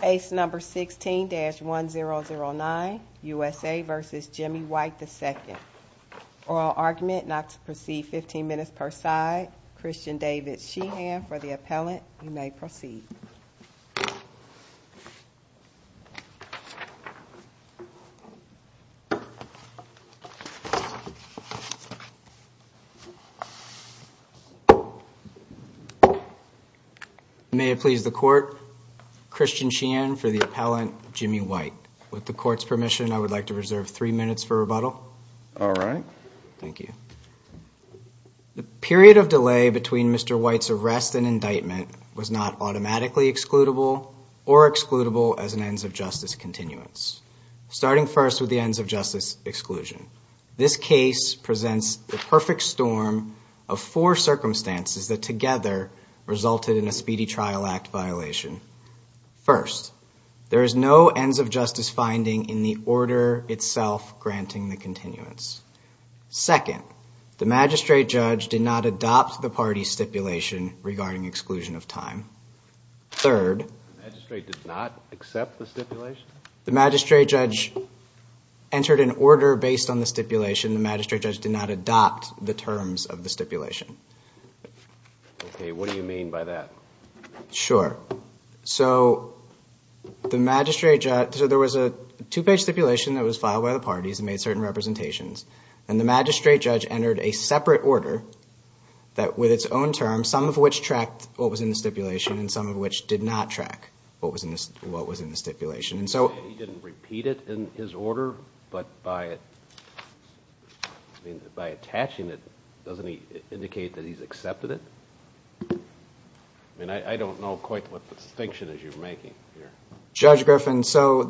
Case number 16-1009, USA v. Jimmie White II Oral argument, not to proceed 15 minutes per side. Christian David Sheehan for the appellant. You may proceed. May it please the court, Christian Sheehan for the appellant, Jimmie White. With the court's permission, I would like to reserve three minutes for rebuttal. All right. Thank you. The period of delay between Mr. White's arrest and indictment was not automatically excludable or excludable as an ends-of-justice continuance, starting first with the ends-of-justice exclusion. This case presents the perfect storm of four circumstances that together resulted in a Speedy Trial Act violation. First, there is no ends-of-justice finding in the order itself granting the continuance. Second, the magistrate judge did not adopt the party's stipulation regarding exclusion of time. Third... The magistrate did not accept the stipulation? The magistrate judge entered an order based on the stipulation. The magistrate judge did not adopt the terms of the stipulation. Okay. What do you mean by that? Sure. So, the magistrate judge... So, there was a two-page stipulation that was filed by the parties and made certain representations, and the magistrate judge entered a separate order that, with its own terms, some of which tracked what was in the stipulation and some of which did not track what was in the stipulation. He didn't repeat it in his order, but by attaching it, doesn't he indicate that he's accepted it? I mean, I don't know quite what distinction you're making here. Judge Griffin, so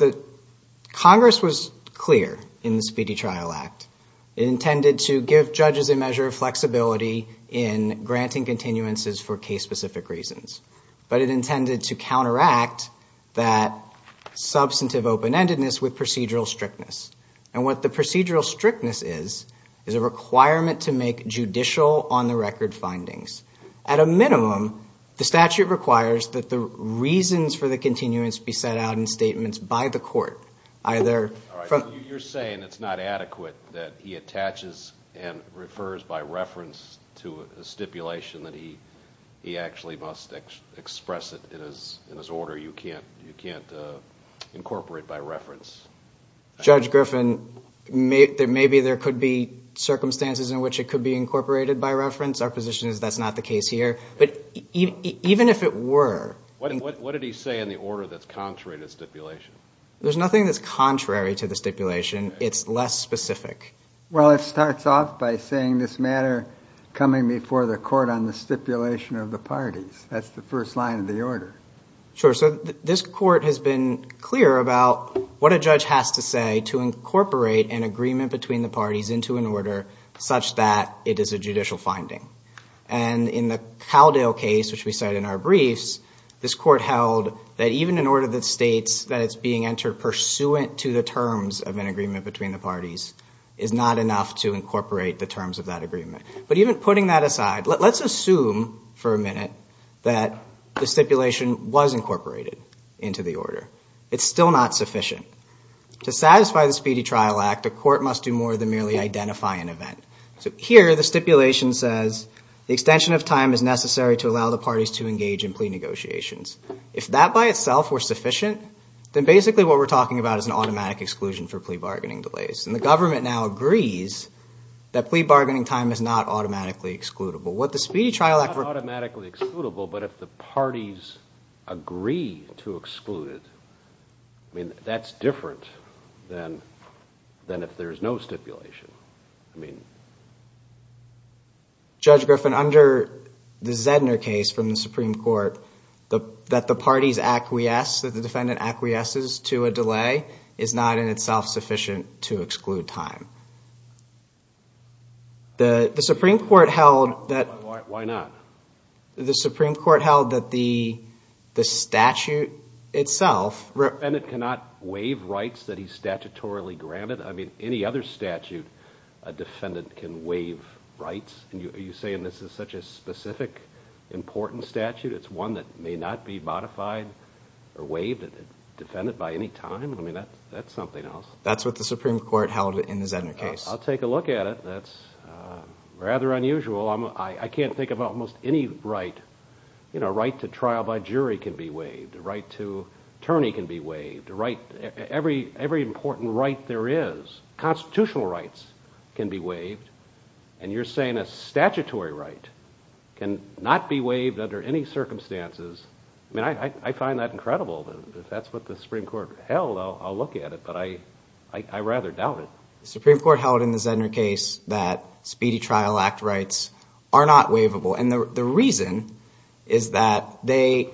Congress was clear in the Speedy Trial Act. It intended to give judges a measure of flexibility in granting continuances for case-specific reasons. But it intended to counteract that substantive open-endedness with procedural strictness. And what the procedural strictness is, is a requirement to make judicial on-the-record findings. At a minimum, the statute requires that the reasons for the continuance be set out in statements by the court. Either from... All right, so you're saying it's not adequate that he attaches and refers by reference to a stipulation that he actually must express it in his order. You can't incorporate by reference. Judge Griffin, maybe there could be circumstances in which it could be incorporated by reference. Our position is that's not the case here. But even if it were... What did he say in the order that's contrary to the stipulation? There's nothing that's contrary to the stipulation. It's less specific. Well, it starts off by saying this matter coming before the court on the stipulation of the parties. That's the first line of the order. Sure, so this court has been clear about what a judge has to say to incorporate an agreement between the parties into an order such that it is a judicial finding. And in the Cowdale case, which we cite in our briefs, this court held that even an order that states that it's being entered pursuant to the terms of an agreement between the parties is not enough to incorporate the terms of that agreement. But even putting that aside, let's assume for a minute that the stipulation was incorporated into the order. It's still not sufficient. To satisfy the Speedy Trial Act, a court must do more than merely identify an event. So here the stipulation says the extension of time is necessary to allow the parties to engage in plea negotiations. If that by itself were sufficient, then basically what we're talking about is an automatic exclusion for plea bargaining delays. And the government now agrees that plea bargaining time is not automatically excludable. It's not automatically excludable, but if the parties agree to exclude it, that's different than if there's no stipulation. Judge Griffin, under the Zedner case from the Supreme Court, that the parties acquiesce, that the defendant acquiesces to a delay is not in itself sufficient to exclude time. Why not? The Supreme Court held that the statute itself... A defendant cannot waive rights that he's statutorily granted? I mean, any other statute, a defendant can waive rights? Are you saying this is such a specific, important statute? It's one that may not be modified or waived by a defendant by any time? I mean, that's something else. That's what the Supreme Court held in the Zedner case. I'll take a look at it. That's rather unusual. I can't think of almost any right. A right to trial by jury can be waived. A right to attorney can be waived. Every important right there is. Constitutional rights can be waived. And you're saying a statutory right can not be waived under any circumstances. I mean, I find that incredible. If that's what the Supreme Court held, I'll look at it. But I rather doubt it. The Supreme Court held in the Zedner case that Speedy Trial Act rights are not waivable. And the reason is that they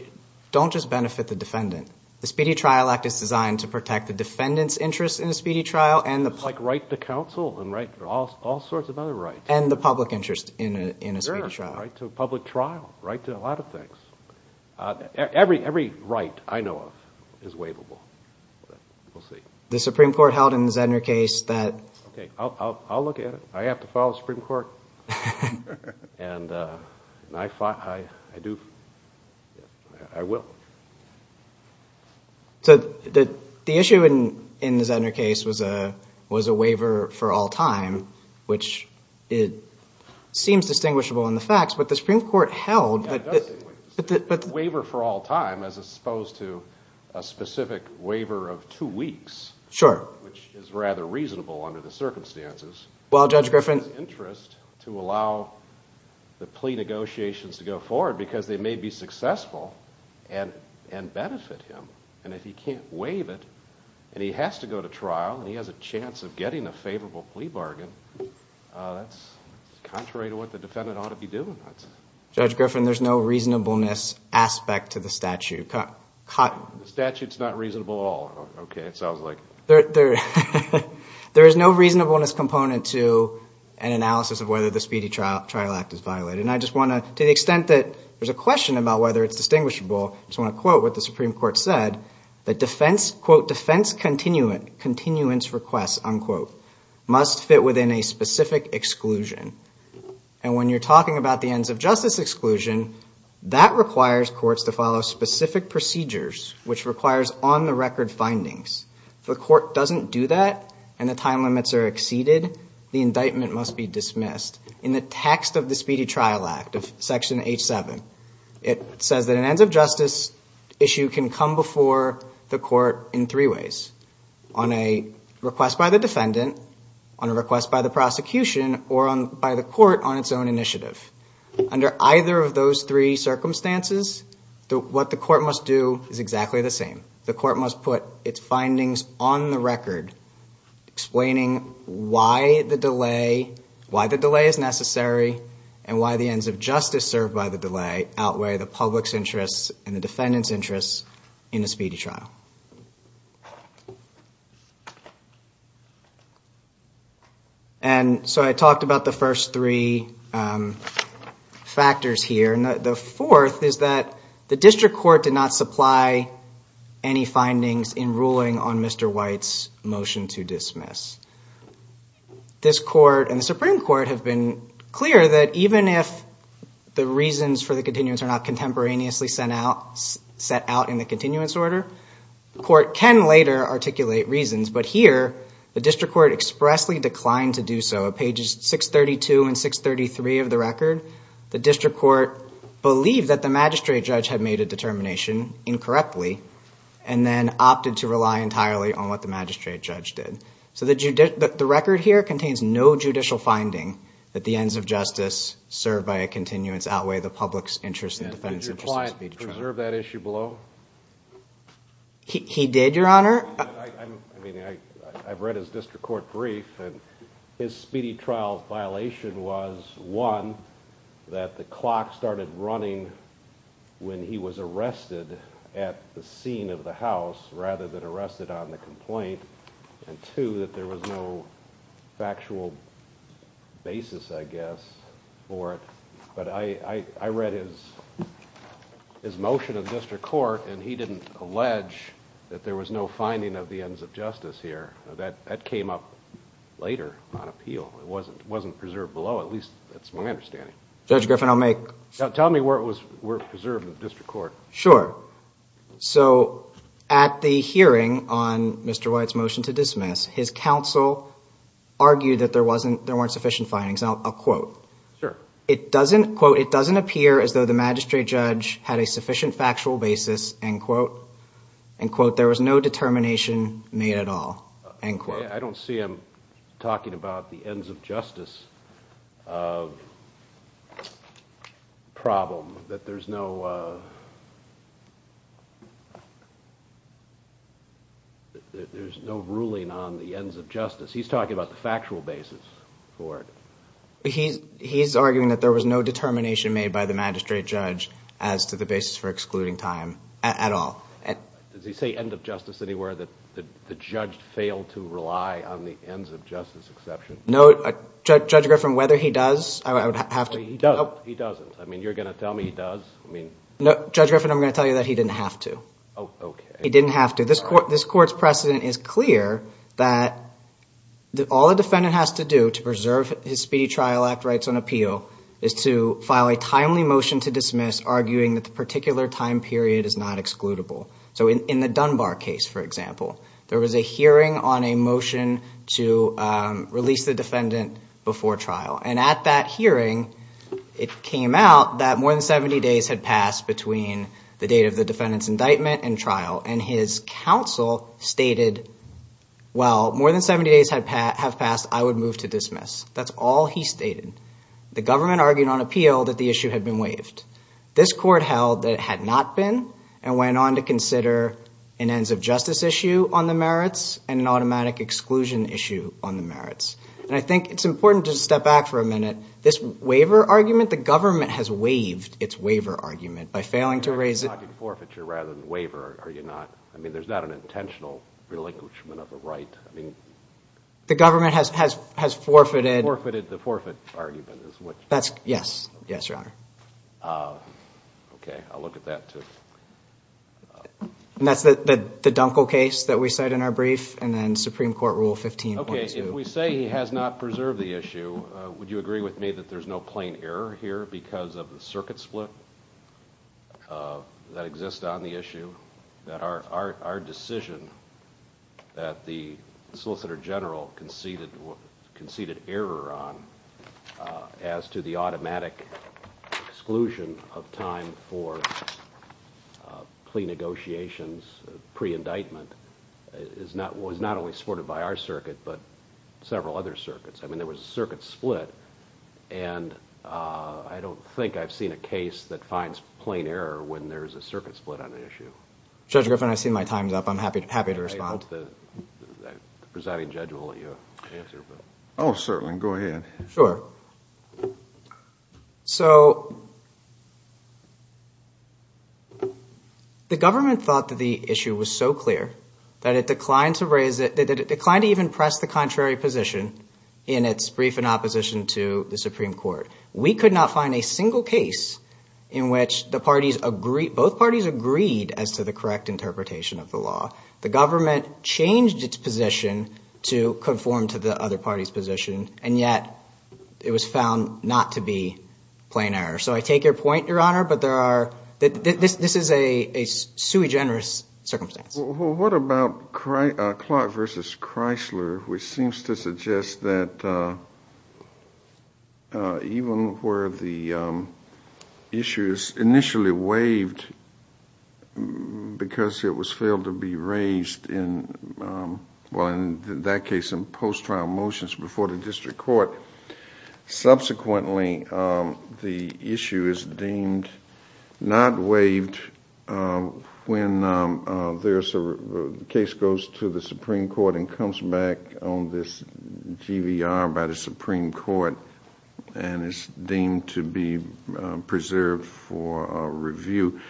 don't just benefit the defendant. The Speedy Trial Act is designed to protect the defendant's interest in a speedy trial. It's like right to counsel and right to all sorts of other rights. And the public interest in a speedy trial. Right to a public trial, right to a lot of things. Every right I know of is waivable. We'll see. The Supreme Court held in the Zedner case that. Okay, I'll look at it. I have to follow the Supreme Court. And I do. I will. So the issue in the Zedner case was a waiver for all time, which seems distinguishable in the facts. But the Supreme Court held that. Waiver for all time as opposed to a specific waiver of two weeks. Sure. Which is rather reasonable under the circumstances. Well, Judge Griffin. To allow the plea negotiations to go forward because they may be successful and benefit him. And if he can't waive it and he has to go to trial and he has a chance of getting a favorable plea bargain, that's contrary to what the defendant ought to be doing. Judge Griffin, there's no reasonableness aspect to the statute. The statute's not reasonable at all. Okay, it sounds like. There is no reasonableness component to an analysis of whether the speedy trial act is violated. And I just want to, to the extent that there's a question about whether it's distinguishable, I just want to quote what the Supreme Court said. The defense, quote, defense continuance request, unquote, must fit within a specific exclusion. And when you're talking about the ends of justice exclusion, that requires courts to follow specific procedures, which requires on the record findings. If the court doesn't do that and the time limits are exceeded, the indictment must be dismissed. In the text of the speedy trial act, of section H-7, it says that an ends of justice issue can come before the court in three ways. On a request by the defendant, on a request by the prosecution, or by the court on its own initiative. Under either of those three circumstances, what the court must do is exactly the same. The court must put its findings on the record, explaining why the delay, why the delay is necessary, and why the ends of justice served by the delay outweigh the public's interests and the defendant's interests in a speedy trial. And so I talked about the first three factors here. The fourth is that the district court did not supply any findings in ruling on Mr. White's motion to dismiss. This court and the Supreme Court have been clear that even if the reasons for the continuance are not contemporaneously set out in the continuance order, the court can later articulate reasons. But here, the district court expressly declined to do so. On pages 632 and 633 of the record, the district court believed that the magistrate judge had made a determination incorrectly and then opted to rely entirely on what the magistrate judge did. So the record here contains no judicial finding that the ends of justice served by a continuance outweigh the public's interests and the defendant's interests in a speedy trial. And did your client preserve that issue below? He did, Your Honor. I mean, I've read his district court brief, and his speedy trial violation was, one, that the clock started running when he was arrested at the scene of the house rather than arrested on the complaint, and two, that there was no factual basis, I guess, for it. But I read his motion of the district court, and he didn't allege that there was no finding of the ends of justice here. That came up later on appeal. It wasn't preserved below, at least that's my understanding. Judge Griffin, I'll make— Tell me where it was preserved in the district court. Sure. So at the hearing on Mr. White's motion to dismiss, his counsel argued that there weren't sufficient findings. Now, I'll quote. Sure. It doesn't, quote, it doesn't appear as though the magistrate judge had a sufficient factual basis, end quote. End quote. There was no determination made at all. End quote. I don't see him talking about the ends of justice problem, that there's no ruling on the ends of justice. He's talking about the factual basis for it. He's arguing that there was no determination made by the magistrate judge as to the basis for excluding time at all. Does he say end of justice anywhere that the judge failed to rely on the ends of justice exception? No. Judge Griffin, whether he does, I would have to— He doesn't. He doesn't. I mean, you're going to tell me he does? I mean— No, Judge Griffin, I'm going to tell you that he didn't have to. Oh, okay. He didn't have to. This court's precedent is clear that all a defendant has to do to preserve his speedy trial act rights on appeal is to file a timely motion to dismiss, arguing that the particular time period is not excludable. So in the Dunbar case, for example, there was a hearing on a motion to release the defendant before trial. And at that hearing, it came out that more than 70 days had passed between the date of the defendant's indictment and trial. And his counsel stated, well, more than 70 days have passed. I would move to dismiss. That's all he stated. The government argued on appeal that the issue had been waived. This court held that it had not been and went on to consider an ends of justice issue on the merits and an automatic exclusion issue on the merits. And I think it's important to step back for a minute. This waiver argument, the government has waived its waiver argument by failing to raise it— You're talking forfeiture rather than waiver, are you not? I mean, there's not an intentional relinquishment of a right. I mean— The government has forfeited— The forfeit argument is what— That's—yes. Yes, Your Honor. Okay. I'll look at that, too. And that's the Dunkel case that we cite in our brief and then Supreme Court Rule 15. Okay. If we say he has not preserved the issue, would you agree with me that there's no plain error here because of the circuit split that exists on the issue? That our decision that the Solicitor General conceded error on as to the automatic exclusion of time for plea negotiations pre-indictment was not only supported by our circuit but several other circuits. I mean, there was a circuit split, and I don't think I've seen a case that finds plain error when there's a circuit split on the issue. Judge Griffin, I see my time's up. I'm happy to respond. I hope the presiding judge will let you answer. Oh, certainly. Go ahead. Sure. So the government thought that the issue was so clear that it declined to raise it—that it declined to even press the contrary position in its brief in opposition to the Supreme Court. We could not find a single case in which the parties agreed—both parties agreed as to the correct interpretation of the law. The government changed its position to conform to the other party's position, and yet it was found not to be plain error. So I take your point, Your Honor, but there are—this is a sui generis circumstance. Well, what about Clark v. Chrysler, which seems to suggest that even where the issue is initially waived because it was failed to be raised in—well, in that case, in post-trial motions before the district court, subsequently the issue is deemed not waived when the case goes to the Supreme Court and comes back on this GVR by the Supreme Court and is deemed to be preserved for review.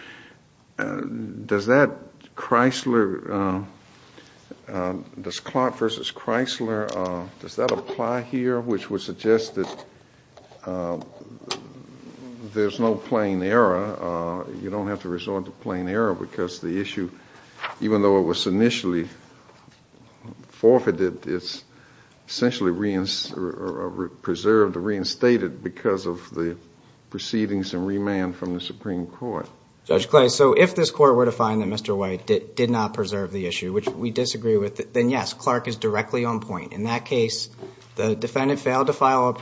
Does that Chrysler—does Clark v. Chrysler—does that apply here, which would suggest that there is no plain error? You don't have to resort to plain error because the issue, even though it was initially forfeited, it's essentially preserved or reinstated because of the proceedings and remand from the Supreme Court. Judge Clay, so if this Court were to find that Mr. White did not preserve the issue, which we disagree with, then yes, Clark is directly on point. In that case, the defendant failed to file a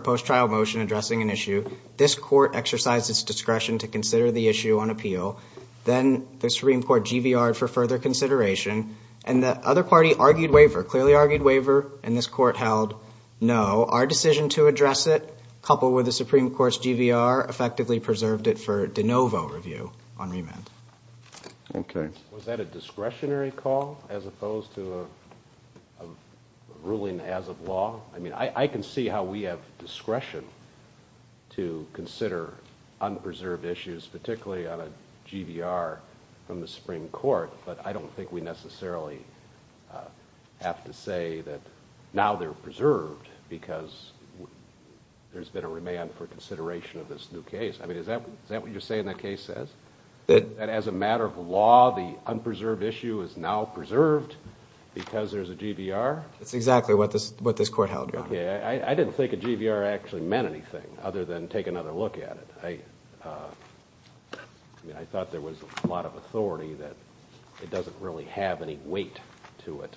post-trial motion addressing an issue. This Court exercised its discretion to consider the issue on appeal. Then the Supreme Court GVR'd for further consideration, and the other party argued waiver, clearly argued waiver, and this Court held no. Our decision to address it, coupled with the Supreme Court's GVR, effectively preserved it for de novo review on remand. Was that a discretionary call as opposed to a ruling as of law? I can see how we have discretion to consider unpreserved issues, particularly on a GVR from the Supreme Court, but I don't think we necessarily have to say that now they're preserved because there's been a remand for consideration of this new case. Is that what you're saying that case says? That as a matter of law, the unpreserved issue is now preserved because there's a GVR? That's exactly what this Court held, Your Honor. Okay, I didn't think a GVR actually meant anything other than take another look at it. I thought there was a lot of authority that it doesn't really have any weight to it.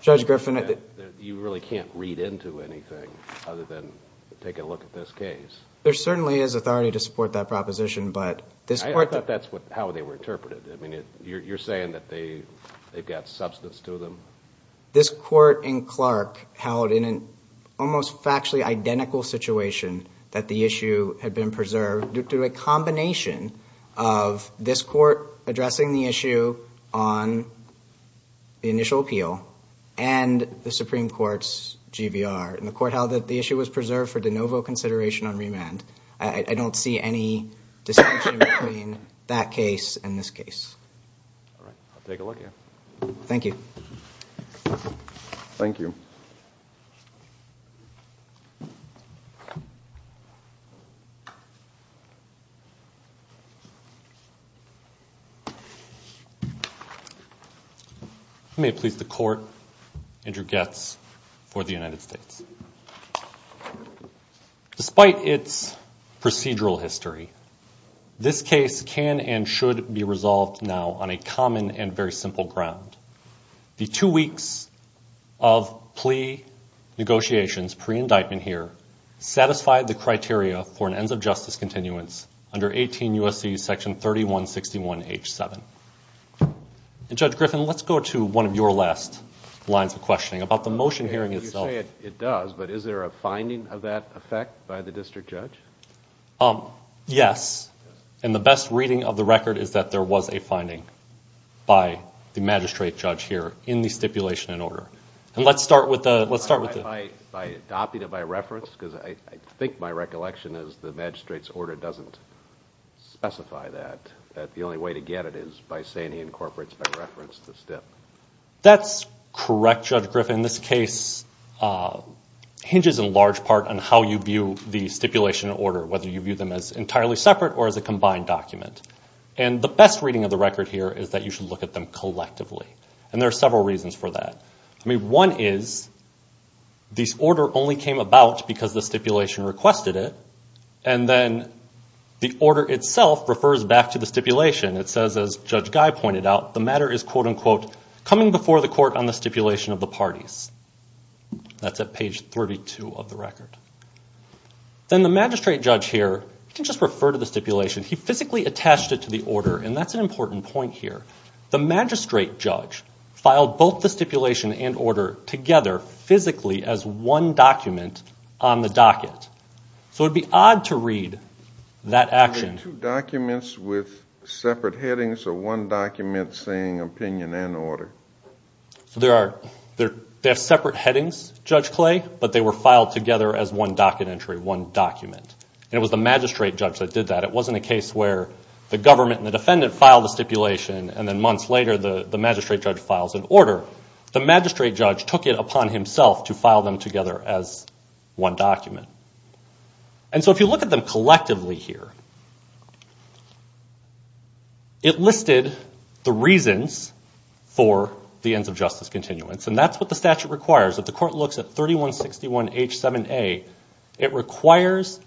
Judge Griffin, I... You really can't read into anything other than take a look at this case. There certainly is authority to support that proposition, but this Court... I thought that's how they were interpreted. I mean, you're saying that they've got substance to them? This Court in Clark held in an almost factually identical situation that the issue had been preserved due to a combination of this Court addressing the issue on the initial appeal and the Supreme Court's GVR. And the Court held that the issue was preserved for de novo consideration on remand. I don't see any distinction between that case and this case. All right, I'll take a look at it. Thank you. Thank you. Thank you. May it please the Court, Andrew Goetz for the United States. Despite its procedural history, this case can and should be resolved now on a common and very simple ground. The two weeks of plea negotiations pre-indictment here satisfied the criteria for an ends of justice continuance under 18 U.S.C. section 3161H7. And Judge Griffin, let's go to one of your last lines of questioning about the motion hearing itself. You say it does, but is there a finding of that effect by the district judge? Yes. And the best reading of the record is that there was a finding by the magistrate judge here in the stipulation and order. And let's start with the... By adopting it by reference? Because I think my recollection is the magistrate's order doesn't specify that. That the only way to get it is by saying he incorporates by reference the stip. That's correct, Judge Griffin. The order in this case hinges in large part on how you view the stipulation order, whether you view them as entirely separate or as a combined document. And the best reading of the record here is that you should look at them collectively. And there are several reasons for that. I mean, one is this order only came about because the stipulation requested it. And then the order itself refers back to the stipulation. It says, as Judge Guy pointed out, the matter is, quote, unquote, coming before the court on the stipulation of the parties. That's at page 32 of the record. Then the magistrate judge here can just refer to the stipulation. He physically attached it to the order, and that's an important point here. The magistrate judge filed both the stipulation and order together physically as one document on the docket. So it would be odd to read that action. Are the two documents with separate headings or one document saying opinion and order? They have separate headings, Judge Clay, but they were filed together as one docket entry, one document. And it was the magistrate judge that did that. It wasn't a case where the government and the defendant filed the stipulation, and then months later the magistrate judge files an order. The magistrate judge took it upon himself to file them together as one document. And so if you look at them collectively here, it listed the reasons for the ends of justice continuance, and that's what the statute requires. If the court looks at 3161H7A, it requires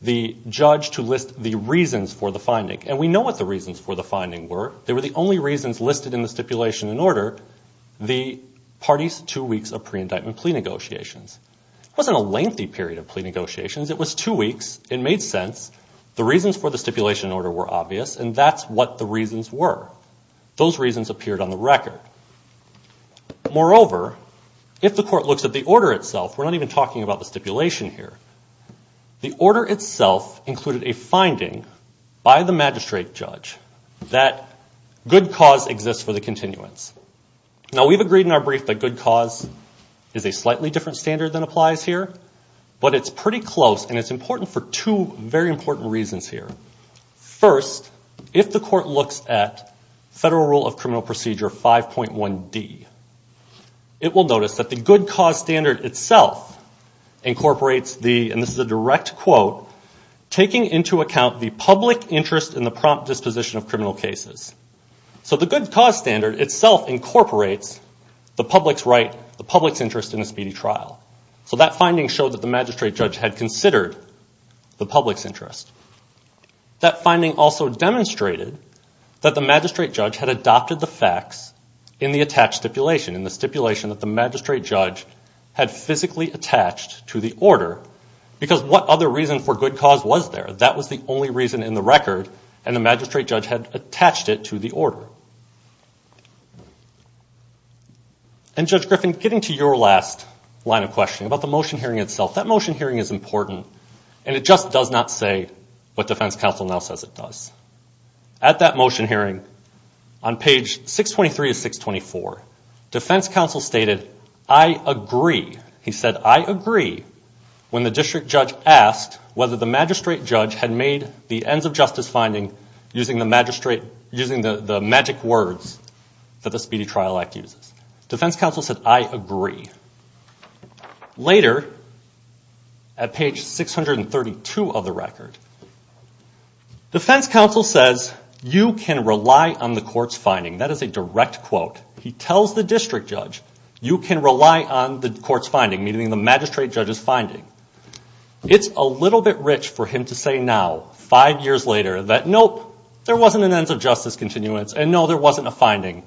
the judge to list the reasons for the finding, and we know what the reasons for the finding were. They were the only reasons listed in the stipulation and order, the parties' two weeks of pre-indictment plea negotiations. It wasn't a lengthy period of plea negotiations. It was two weeks. It made sense. The reasons for the stipulation and order were obvious, and that's what the reasons were. Those reasons appeared on the record. Moreover, if the court looks at the order itself, we're not even talking about the stipulation here. The order itself included a finding by the magistrate judge that good cause exists for the continuance. Now, we've agreed in our brief that good cause is a slightly different standard than applies here, but it's pretty close, and it's important for two very important reasons here. First, if the court looks at Federal Rule of Criminal Procedure 5.1D, it will notice that the good cause standard itself incorporates the, and this is a direct quote, taking into account the public interest in the prompt disposition of criminal cases. So the good cause standard itself incorporates the public's right, the public's interest in a speedy trial. So that finding showed that the magistrate judge had considered the public's interest. That finding also demonstrated that the magistrate judge had adopted the facts in the attached stipulation, in the stipulation that the magistrate judge had physically attached to the order, because what other reason for good cause was there? That was the only reason in the record, and the magistrate judge had attached it to the order. And Judge Griffin, getting to your last line of questioning about the motion hearing itself, that motion hearing is important, and it just does not say what defense counsel now says it does. At that motion hearing, on page 623 of 624, defense counsel stated, I agree, he said, I agree when the district judge asked whether the magistrate judge had made the ends of justice finding using the magic words that the Speedy Trial Act uses. Defense counsel said, I agree. Later, at page 632 of the record, defense counsel says, you can rely on the court's finding. That is a direct quote. In fact, he tells the district judge, you can rely on the court's finding, meaning the magistrate judge's finding. It's a little bit rich for him to say now, five years later, that nope, there wasn't an ends of justice continuance, and no, there wasn't a finding,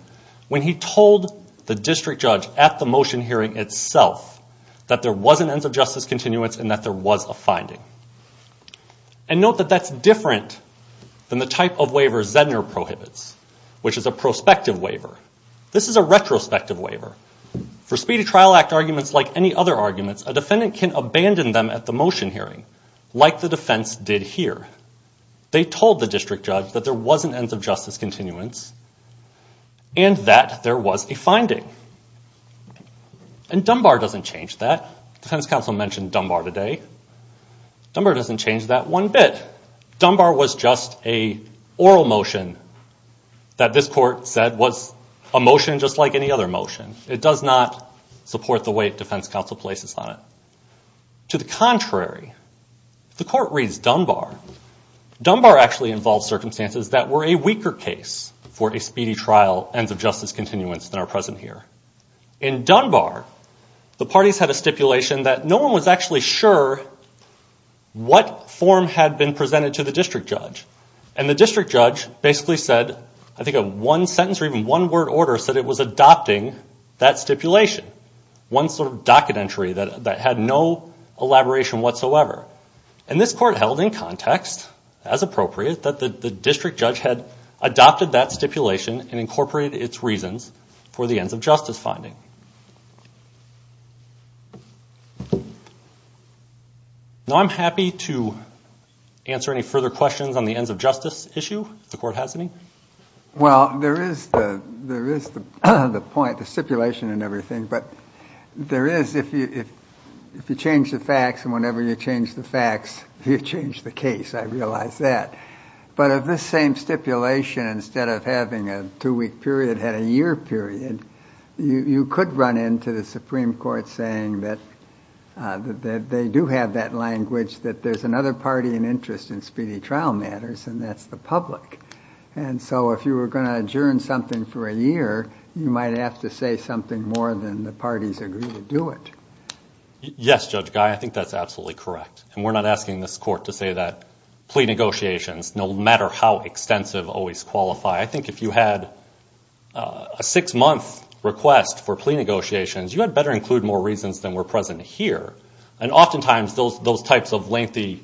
when he told the district judge at the motion hearing itself that there was an ends of justice continuance and that there was a finding. And note that that's different than the type of waiver Zedner prohibits, which is a prospective waiver. This is a retrospective waiver. For Speedy Trial Act arguments, like any other arguments, a defendant can abandon them at the motion hearing, like the defense did here. They told the district judge that there was an ends of justice continuance and that there was a finding. And Dunbar doesn't change that. Defense counsel mentioned Dunbar today. Dunbar doesn't change that one bit. Dunbar was just an oral motion that this court said was a motion just like any other motion. It does not support the way defense counsel places on it. To the contrary, the court reads Dunbar. Dunbar actually involves circumstances that were a weaker case for a speedy trial ends of justice continuance than are present here. In Dunbar, the parties had a stipulation that no one was actually sure what form had been presented to the district judge. And the district judge basically said, I think in one sentence or even one word order, said it was adopting that stipulation, one sort of docket entry that had no elaboration whatsoever. And this court held in context, as appropriate, that the district judge had adopted that stipulation and incorporated its reasons for the ends of justice finding. Now I'm happy to answer any further questions on the ends of justice issue if the court has any. Well, there is the point, the stipulation and everything, but there is, if you change the facts and whenever you change the facts, you change the case. I realize that. But of this same stipulation, instead of having a two-week period, it had a year period. You could run into the Supreme Court saying that they do have that language, that there's another party in interest in speedy trial matters, and that's the public. And so if you were going to adjourn something for a year, you might have to say something more than the parties agree to do it. Yes, Judge Guy, I think that's absolutely correct. And we're not asking this court to say that plea negotiations, no matter how extensive, always qualify. I think if you had a six-month request for plea negotiations, you had better include more reasons than were present here. And oftentimes those types of lengthy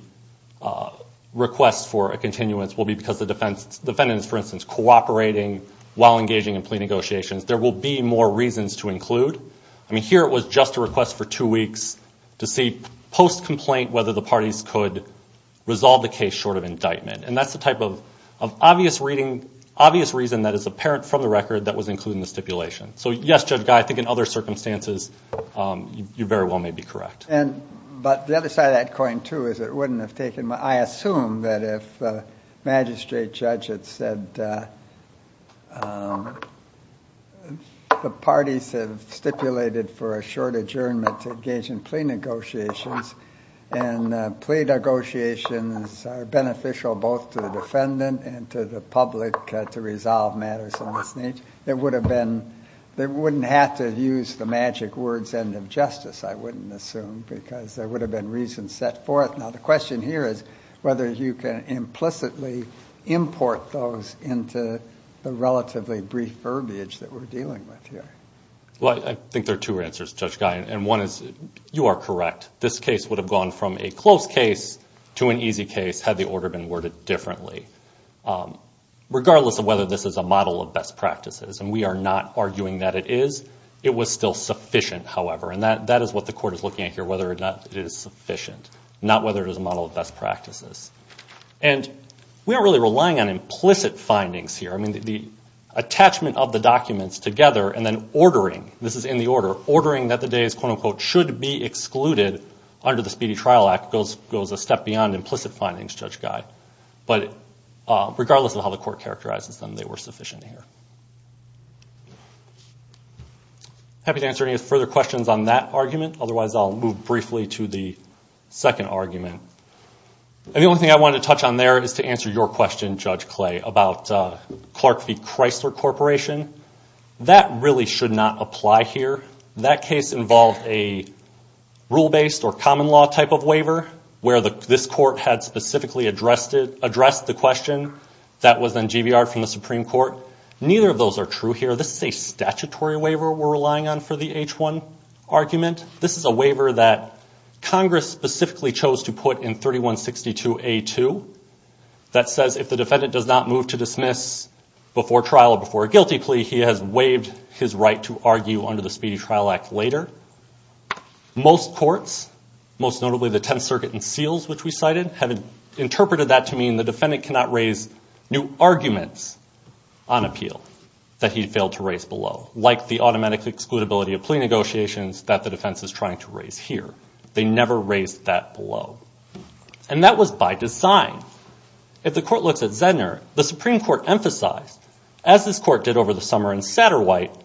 requests for a continuance will be because the defendant is, for instance, cooperating while engaging in plea negotiations. There will be more reasons to include. I mean, here it was just a request for two weeks to see, post-complaint, whether the parties could resolve the case short of indictment. And that's the type of obvious reason that is apparent from the record that was included in the stipulation. So, yes, Judge Guy, I think in other circumstances you very well may be correct. But the other side of that coin, too, is it wouldn't have taken much. I assume that if Magistrate Judge had said the parties have stipulated for a short adjournment to engage in plea negotiations and plea negotiations are beneficial both to the defendant and to the public to resolve matters of this nature, there wouldn't have to use the magic words end of justice, I wouldn't assume, because there would have been reason set forth. Now, the question here is whether you can implicitly import those into the relatively brief verbiage that we're dealing with here. Well, I think there are two answers, Judge Guy, and one is you are correct. This case would have gone from a close case to an easy case had the order been worded differently. Regardless of whether this is a model of best practices, and we are not arguing that it is, it was still sufficient, however. And that is what the Court is looking at here, whether or not it is sufficient, not whether it is a model of best practices. And we aren't really relying on implicit findings here. I mean, the attachment of the documents together and then ordering, this is in the order, ordering that the days, quote, unquote, should be excluded under the Speedy Trial Act goes a step beyond implicit findings, Judge Guy. But regardless of how the Court characterizes them, they were sufficient here. Happy to answer any further questions on that argument. Otherwise, I'll move briefly to the second argument. And the only thing I wanted to touch on there is to answer your question, Judge Clay, about Clark v. Chrysler Corporation. That really should not apply here. That case involved a rule-based or common law type of waiver where this Court had specifically addressed the question. That was then GBR'd from the Supreme Court. Neither of those are true here. This is a statutory waiver we're relying on for the H-1 argument. This is a waiver that Congress specifically chose to put in 3162A-2 that says if the defendant does not move to dismiss before trial before a guilty plea, he has waived his right to argue under the Speedy Trial Act later. Most courts, most notably the Tenth Circuit and Seals, which we cited, have interpreted that to mean the defendant cannot raise new arguments on appeal that he failed to raise below, like the automatic excludability of plea negotiations that the defense is trying to raise here. They never raised that below. And that was by design. If the Court looks at Zedner, the Supreme Court emphasized, as this Court did over the summer in Satterwhite,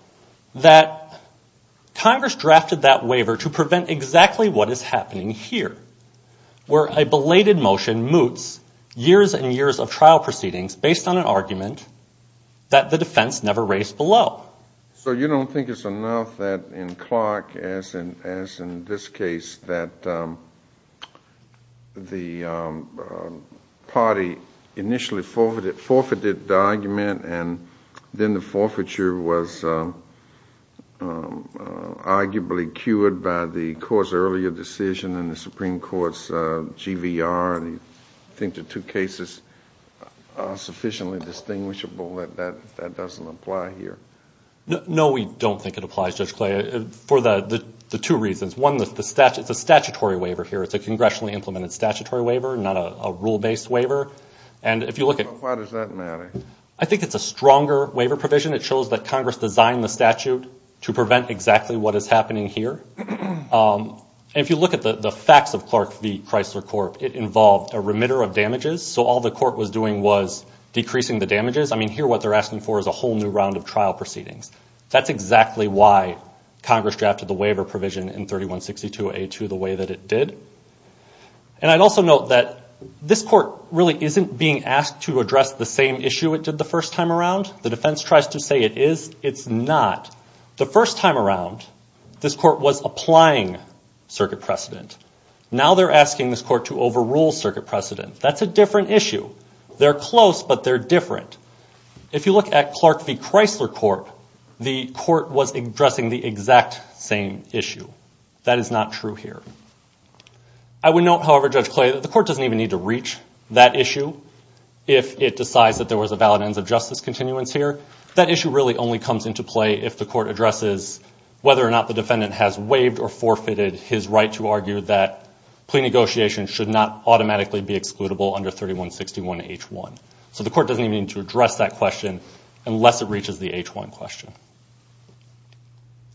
that Congress drafted that waiver to prevent exactly what is happening here, where a belated motion moots years and years of trial proceedings based on an argument that the defense never raised below. So you don't think it's enough that in Clark, as in this case, that the party initially forfeited the argument and then the forfeiture was arguably cured by the Court's earlier decision and the Supreme Court's GVR, and you think the two cases are sufficiently distinguishable that that doesn't apply here? No, we don't think it applies, Judge Clay, for the two reasons. One, it's a statutory waiver here. It's a congressionally implemented statutory waiver, not a rule-based waiver. Why does that matter? I think it's a stronger waiver provision. It shows that Congress designed the statute to prevent exactly what is happening here. If you look at the facts of Clark v. Chrysler Corp., it involved a remitter of damages, so all the Court was doing was decreasing the damages. I mean, here what they're asking for is a whole new round of trial proceedings. That's exactly why Congress drafted the waiver provision in 3162A2 the way that it did. And I'd also note that this Court really isn't being asked to address the same issue it did the first time around. The defense tries to say it is. It's not. The first time around, this Court was applying circuit precedent. Now they're asking this Court to overrule circuit precedent. That's a different issue. They're close, but they're different. If you look at Clark v. Chrysler Corp., the Court was addressing the exact same issue. That is not true here. I would note, however, Judge Clay, that the Court doesn't even need to reach that issue if it decides that there was a valid ends of justice continuance here. That issue really only comes into play if the Court addresses whether or not the defendant has waived or forfeited his right to argue that plea negotiations should not automatically be excludable under 3161H1. So the Court doesn't even need to address that question unless it reaches the H1 question.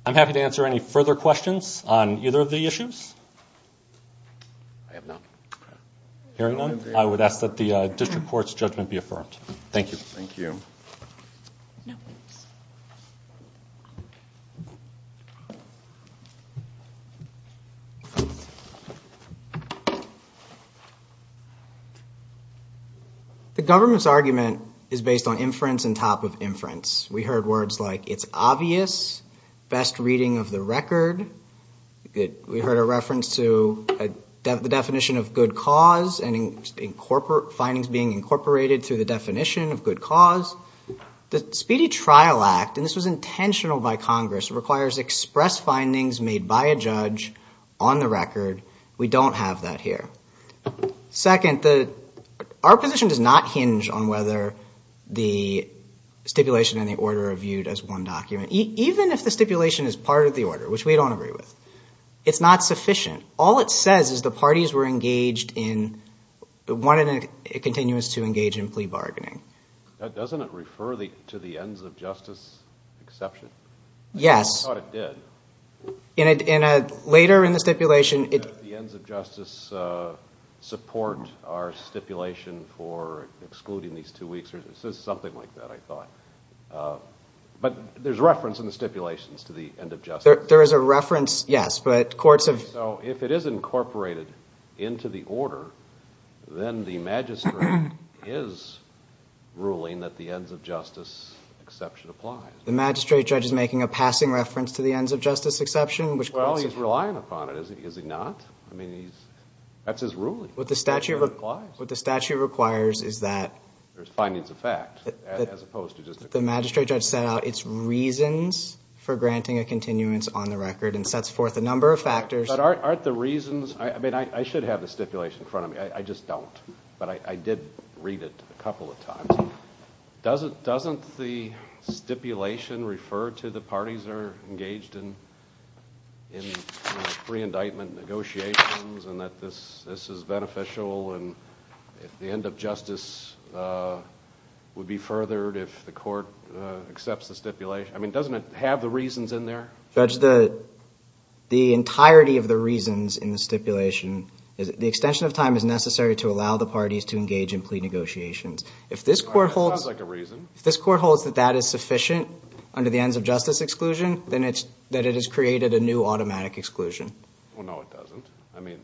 I'm happy to answer any further questions on either of the issues. I have none. Hearing none, I would ask that the district court's judgment be affirmed. Thank you. Thank you. The government's argument is based on inference on top of inference. We heard words like it's obvious, best reading of the record. We heard a reference to the definition of good cause and findings being incorporated through the definition of good cause. The Speedy Trial Act, and this was intentional by Congress, requires express findings made by a judge on the record. We don't have that here. Second, our position does not hinge on whether the stipulation and the order are viewed as one document. Even if the stipulation is part of the order, which we don't agree with, it's not sufficient. All it says is the parties were engaged in, wanted a continuous to engage in plea bargaining. Doesn't it refer to the ends of justice exception? Yes. I thought it did. Later in the stipulation it- Does the ends of justice support our stipulation for excluding these two weeks? It says something like that, I thought. But there's reference in the stipulations to the end of justice. There is a reference, yes, but courts have- So if it is incorporated into the order, then the magistrate is ruling that the ends of justice exception applies. The magistrate judge is making a passing reference to the ends of justice exception, which- Well, he's relying upon it, is he not? I mean, that's his ruling. What the statute requires is that- There's findings of fact, as opposed to just- The magistrate judge set out its reasons for granting a continuance on the record and sets forth a number of factors- But aren't the reasons- I mean, I should have the stipulation in front of me, I just don't. But I did read it a couple of times. Doesn't the stipulation refer to the parties are engaged in pre-indictment negotiations and that this is beneficial and the end of justice would be furthered if the court accepts the stipulation? I mean, doesn't it have the reasons in there? Judge, the entirety of the reasons in the stipulation is that the extension of time is necessary to allow the parties to engage in plea negotiations. If this court holds- It sounds like a reason. If this court holds that that is sufficient under the ends of justice exclusion, then it's that it has created a new automatic exclusion. Well, no, it doesn't. I mean-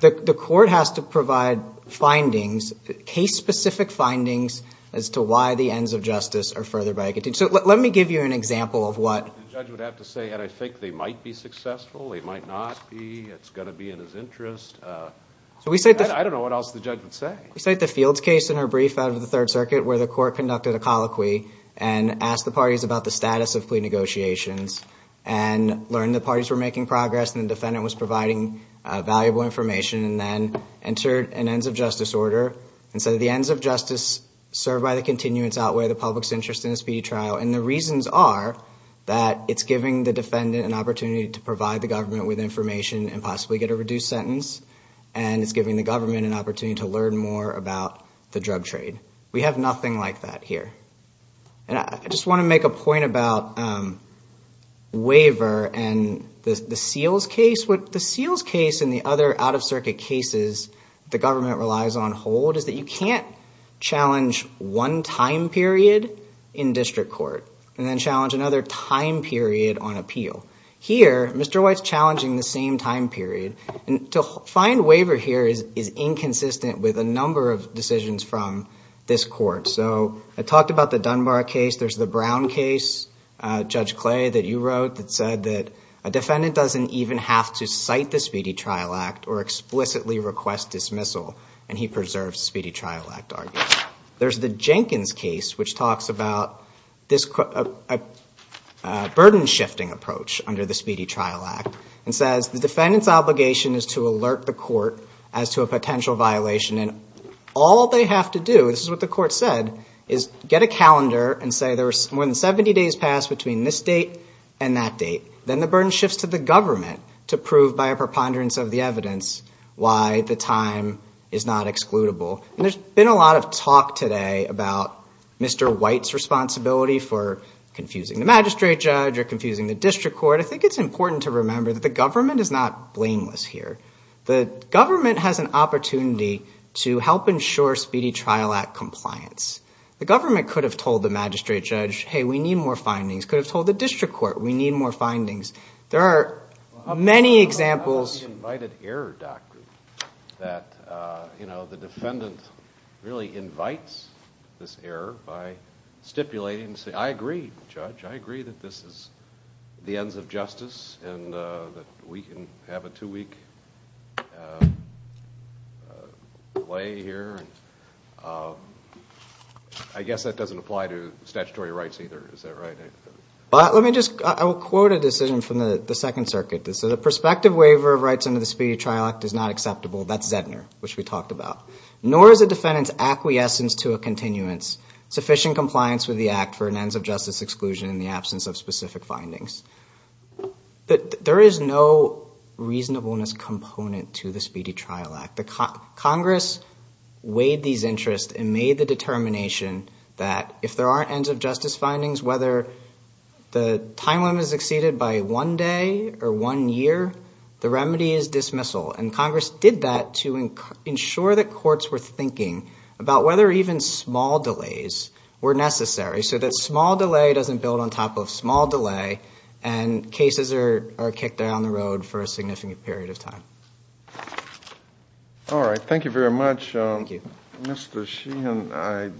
The court has to provide findings, case-specific findings, as to why the ends of justice are furthered by a- So let me give you an example of what- The judge would have to say, and I think they might be successful, they might not be, it's going to be in his interest. I don't know what else the judge would say. We cite the Fields case in her brief out of the Third Circuit where the court conducted a colloquy and asked the parties about the status of plea negotiations and learned the parties were making progress and the defendant was providing valuable information and then entered an ends of justice order and said that the ends of justice served by the continuance outweigh the public's interest in a speedy trial. And the reasons are that it's giving the defendant an opportunity to provide the government with information and possibly get a reduced sentence, and it's giving the government an opportunity to learn more about the drug trade. We have nothing like that here. And I just want to make a point about Waiver and the Seals case. What the Seals case and the other out-of-circuit cases the government relies on hold is that you can't challenge one time period in district court and then challenge another time period on appeal. Here, Mr. White's challenging the same time period. And to find waiver here is inconsistent with a number of decisions from this court. So I talked about the Dunbar case. There's the Brown case, Judge Clay, that you wrote that said that a defendant doesn't even have to cite the Speedy Trial Act or explicitly request dismissal, and he preserves Speedy Trial Act arguments. There's the Jenkins case which talks about a burden-shifting approach under the Speedy Trial Act and says the defendant's obligation is to alert the court as to a potential violation. And all they have to do, this is what the court said, is get a calendar and say there were more than 70 days passed between this date and that date. Then the burden shifts to the government to prove by a preponderance of the evidence why the time is not excludable. And there's been a lot of talk today about Mr. White's responsibility for confusing the magistrate judge or confusing the district court. But I think it's important to remember that the government is not blameless here. The government has an opportunity to help ensure Speedy Trial Act compliance. The government could have told the magistrate judge, hey, we need more findings. It could have told the district court, we need more findings. There are many examples. I like the invited error doctrine that the defendant really invites this error by stipulating and saying, I agree, Judge, I agree that this is the ends of justice and that we can have a two-week play here. I guess that doesn't apply to statutory rights either. Is that right? Let me just quote a decision from the Second Circuit. So the prospective waiver of rights under the Speedy Trial Act is not acceptable. That's Zedner, which we talked about. Nor is a defendant's acquiescence to a continuance sufficient compliance with the act for an ends of justice exclusion in the absence of specific findings. There is no reasonableness component to the Speedy Trial Act. Congress weighed these interests and made the determination that if there are ends of justice findings, whether the time limit is exceeded by one day or one year, the remedy is dismissal. And Congress did that to ensure that courts were thinking about whether even small delays were necessary so that small delay doesn't build on top of small delay and cases are kicked down the road for a significant period of time. All right. Thank you very much. Thank you. Mr. Sheehan, I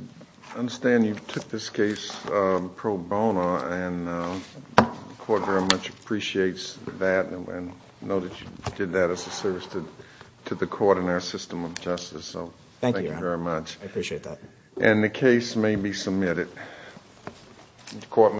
understand you took this case pro bono, and the court very much appreciates that and know that you did that as a service to the court and our system of justice. Thank you. Thank you very much. I appreciate that. And the case may be submitted.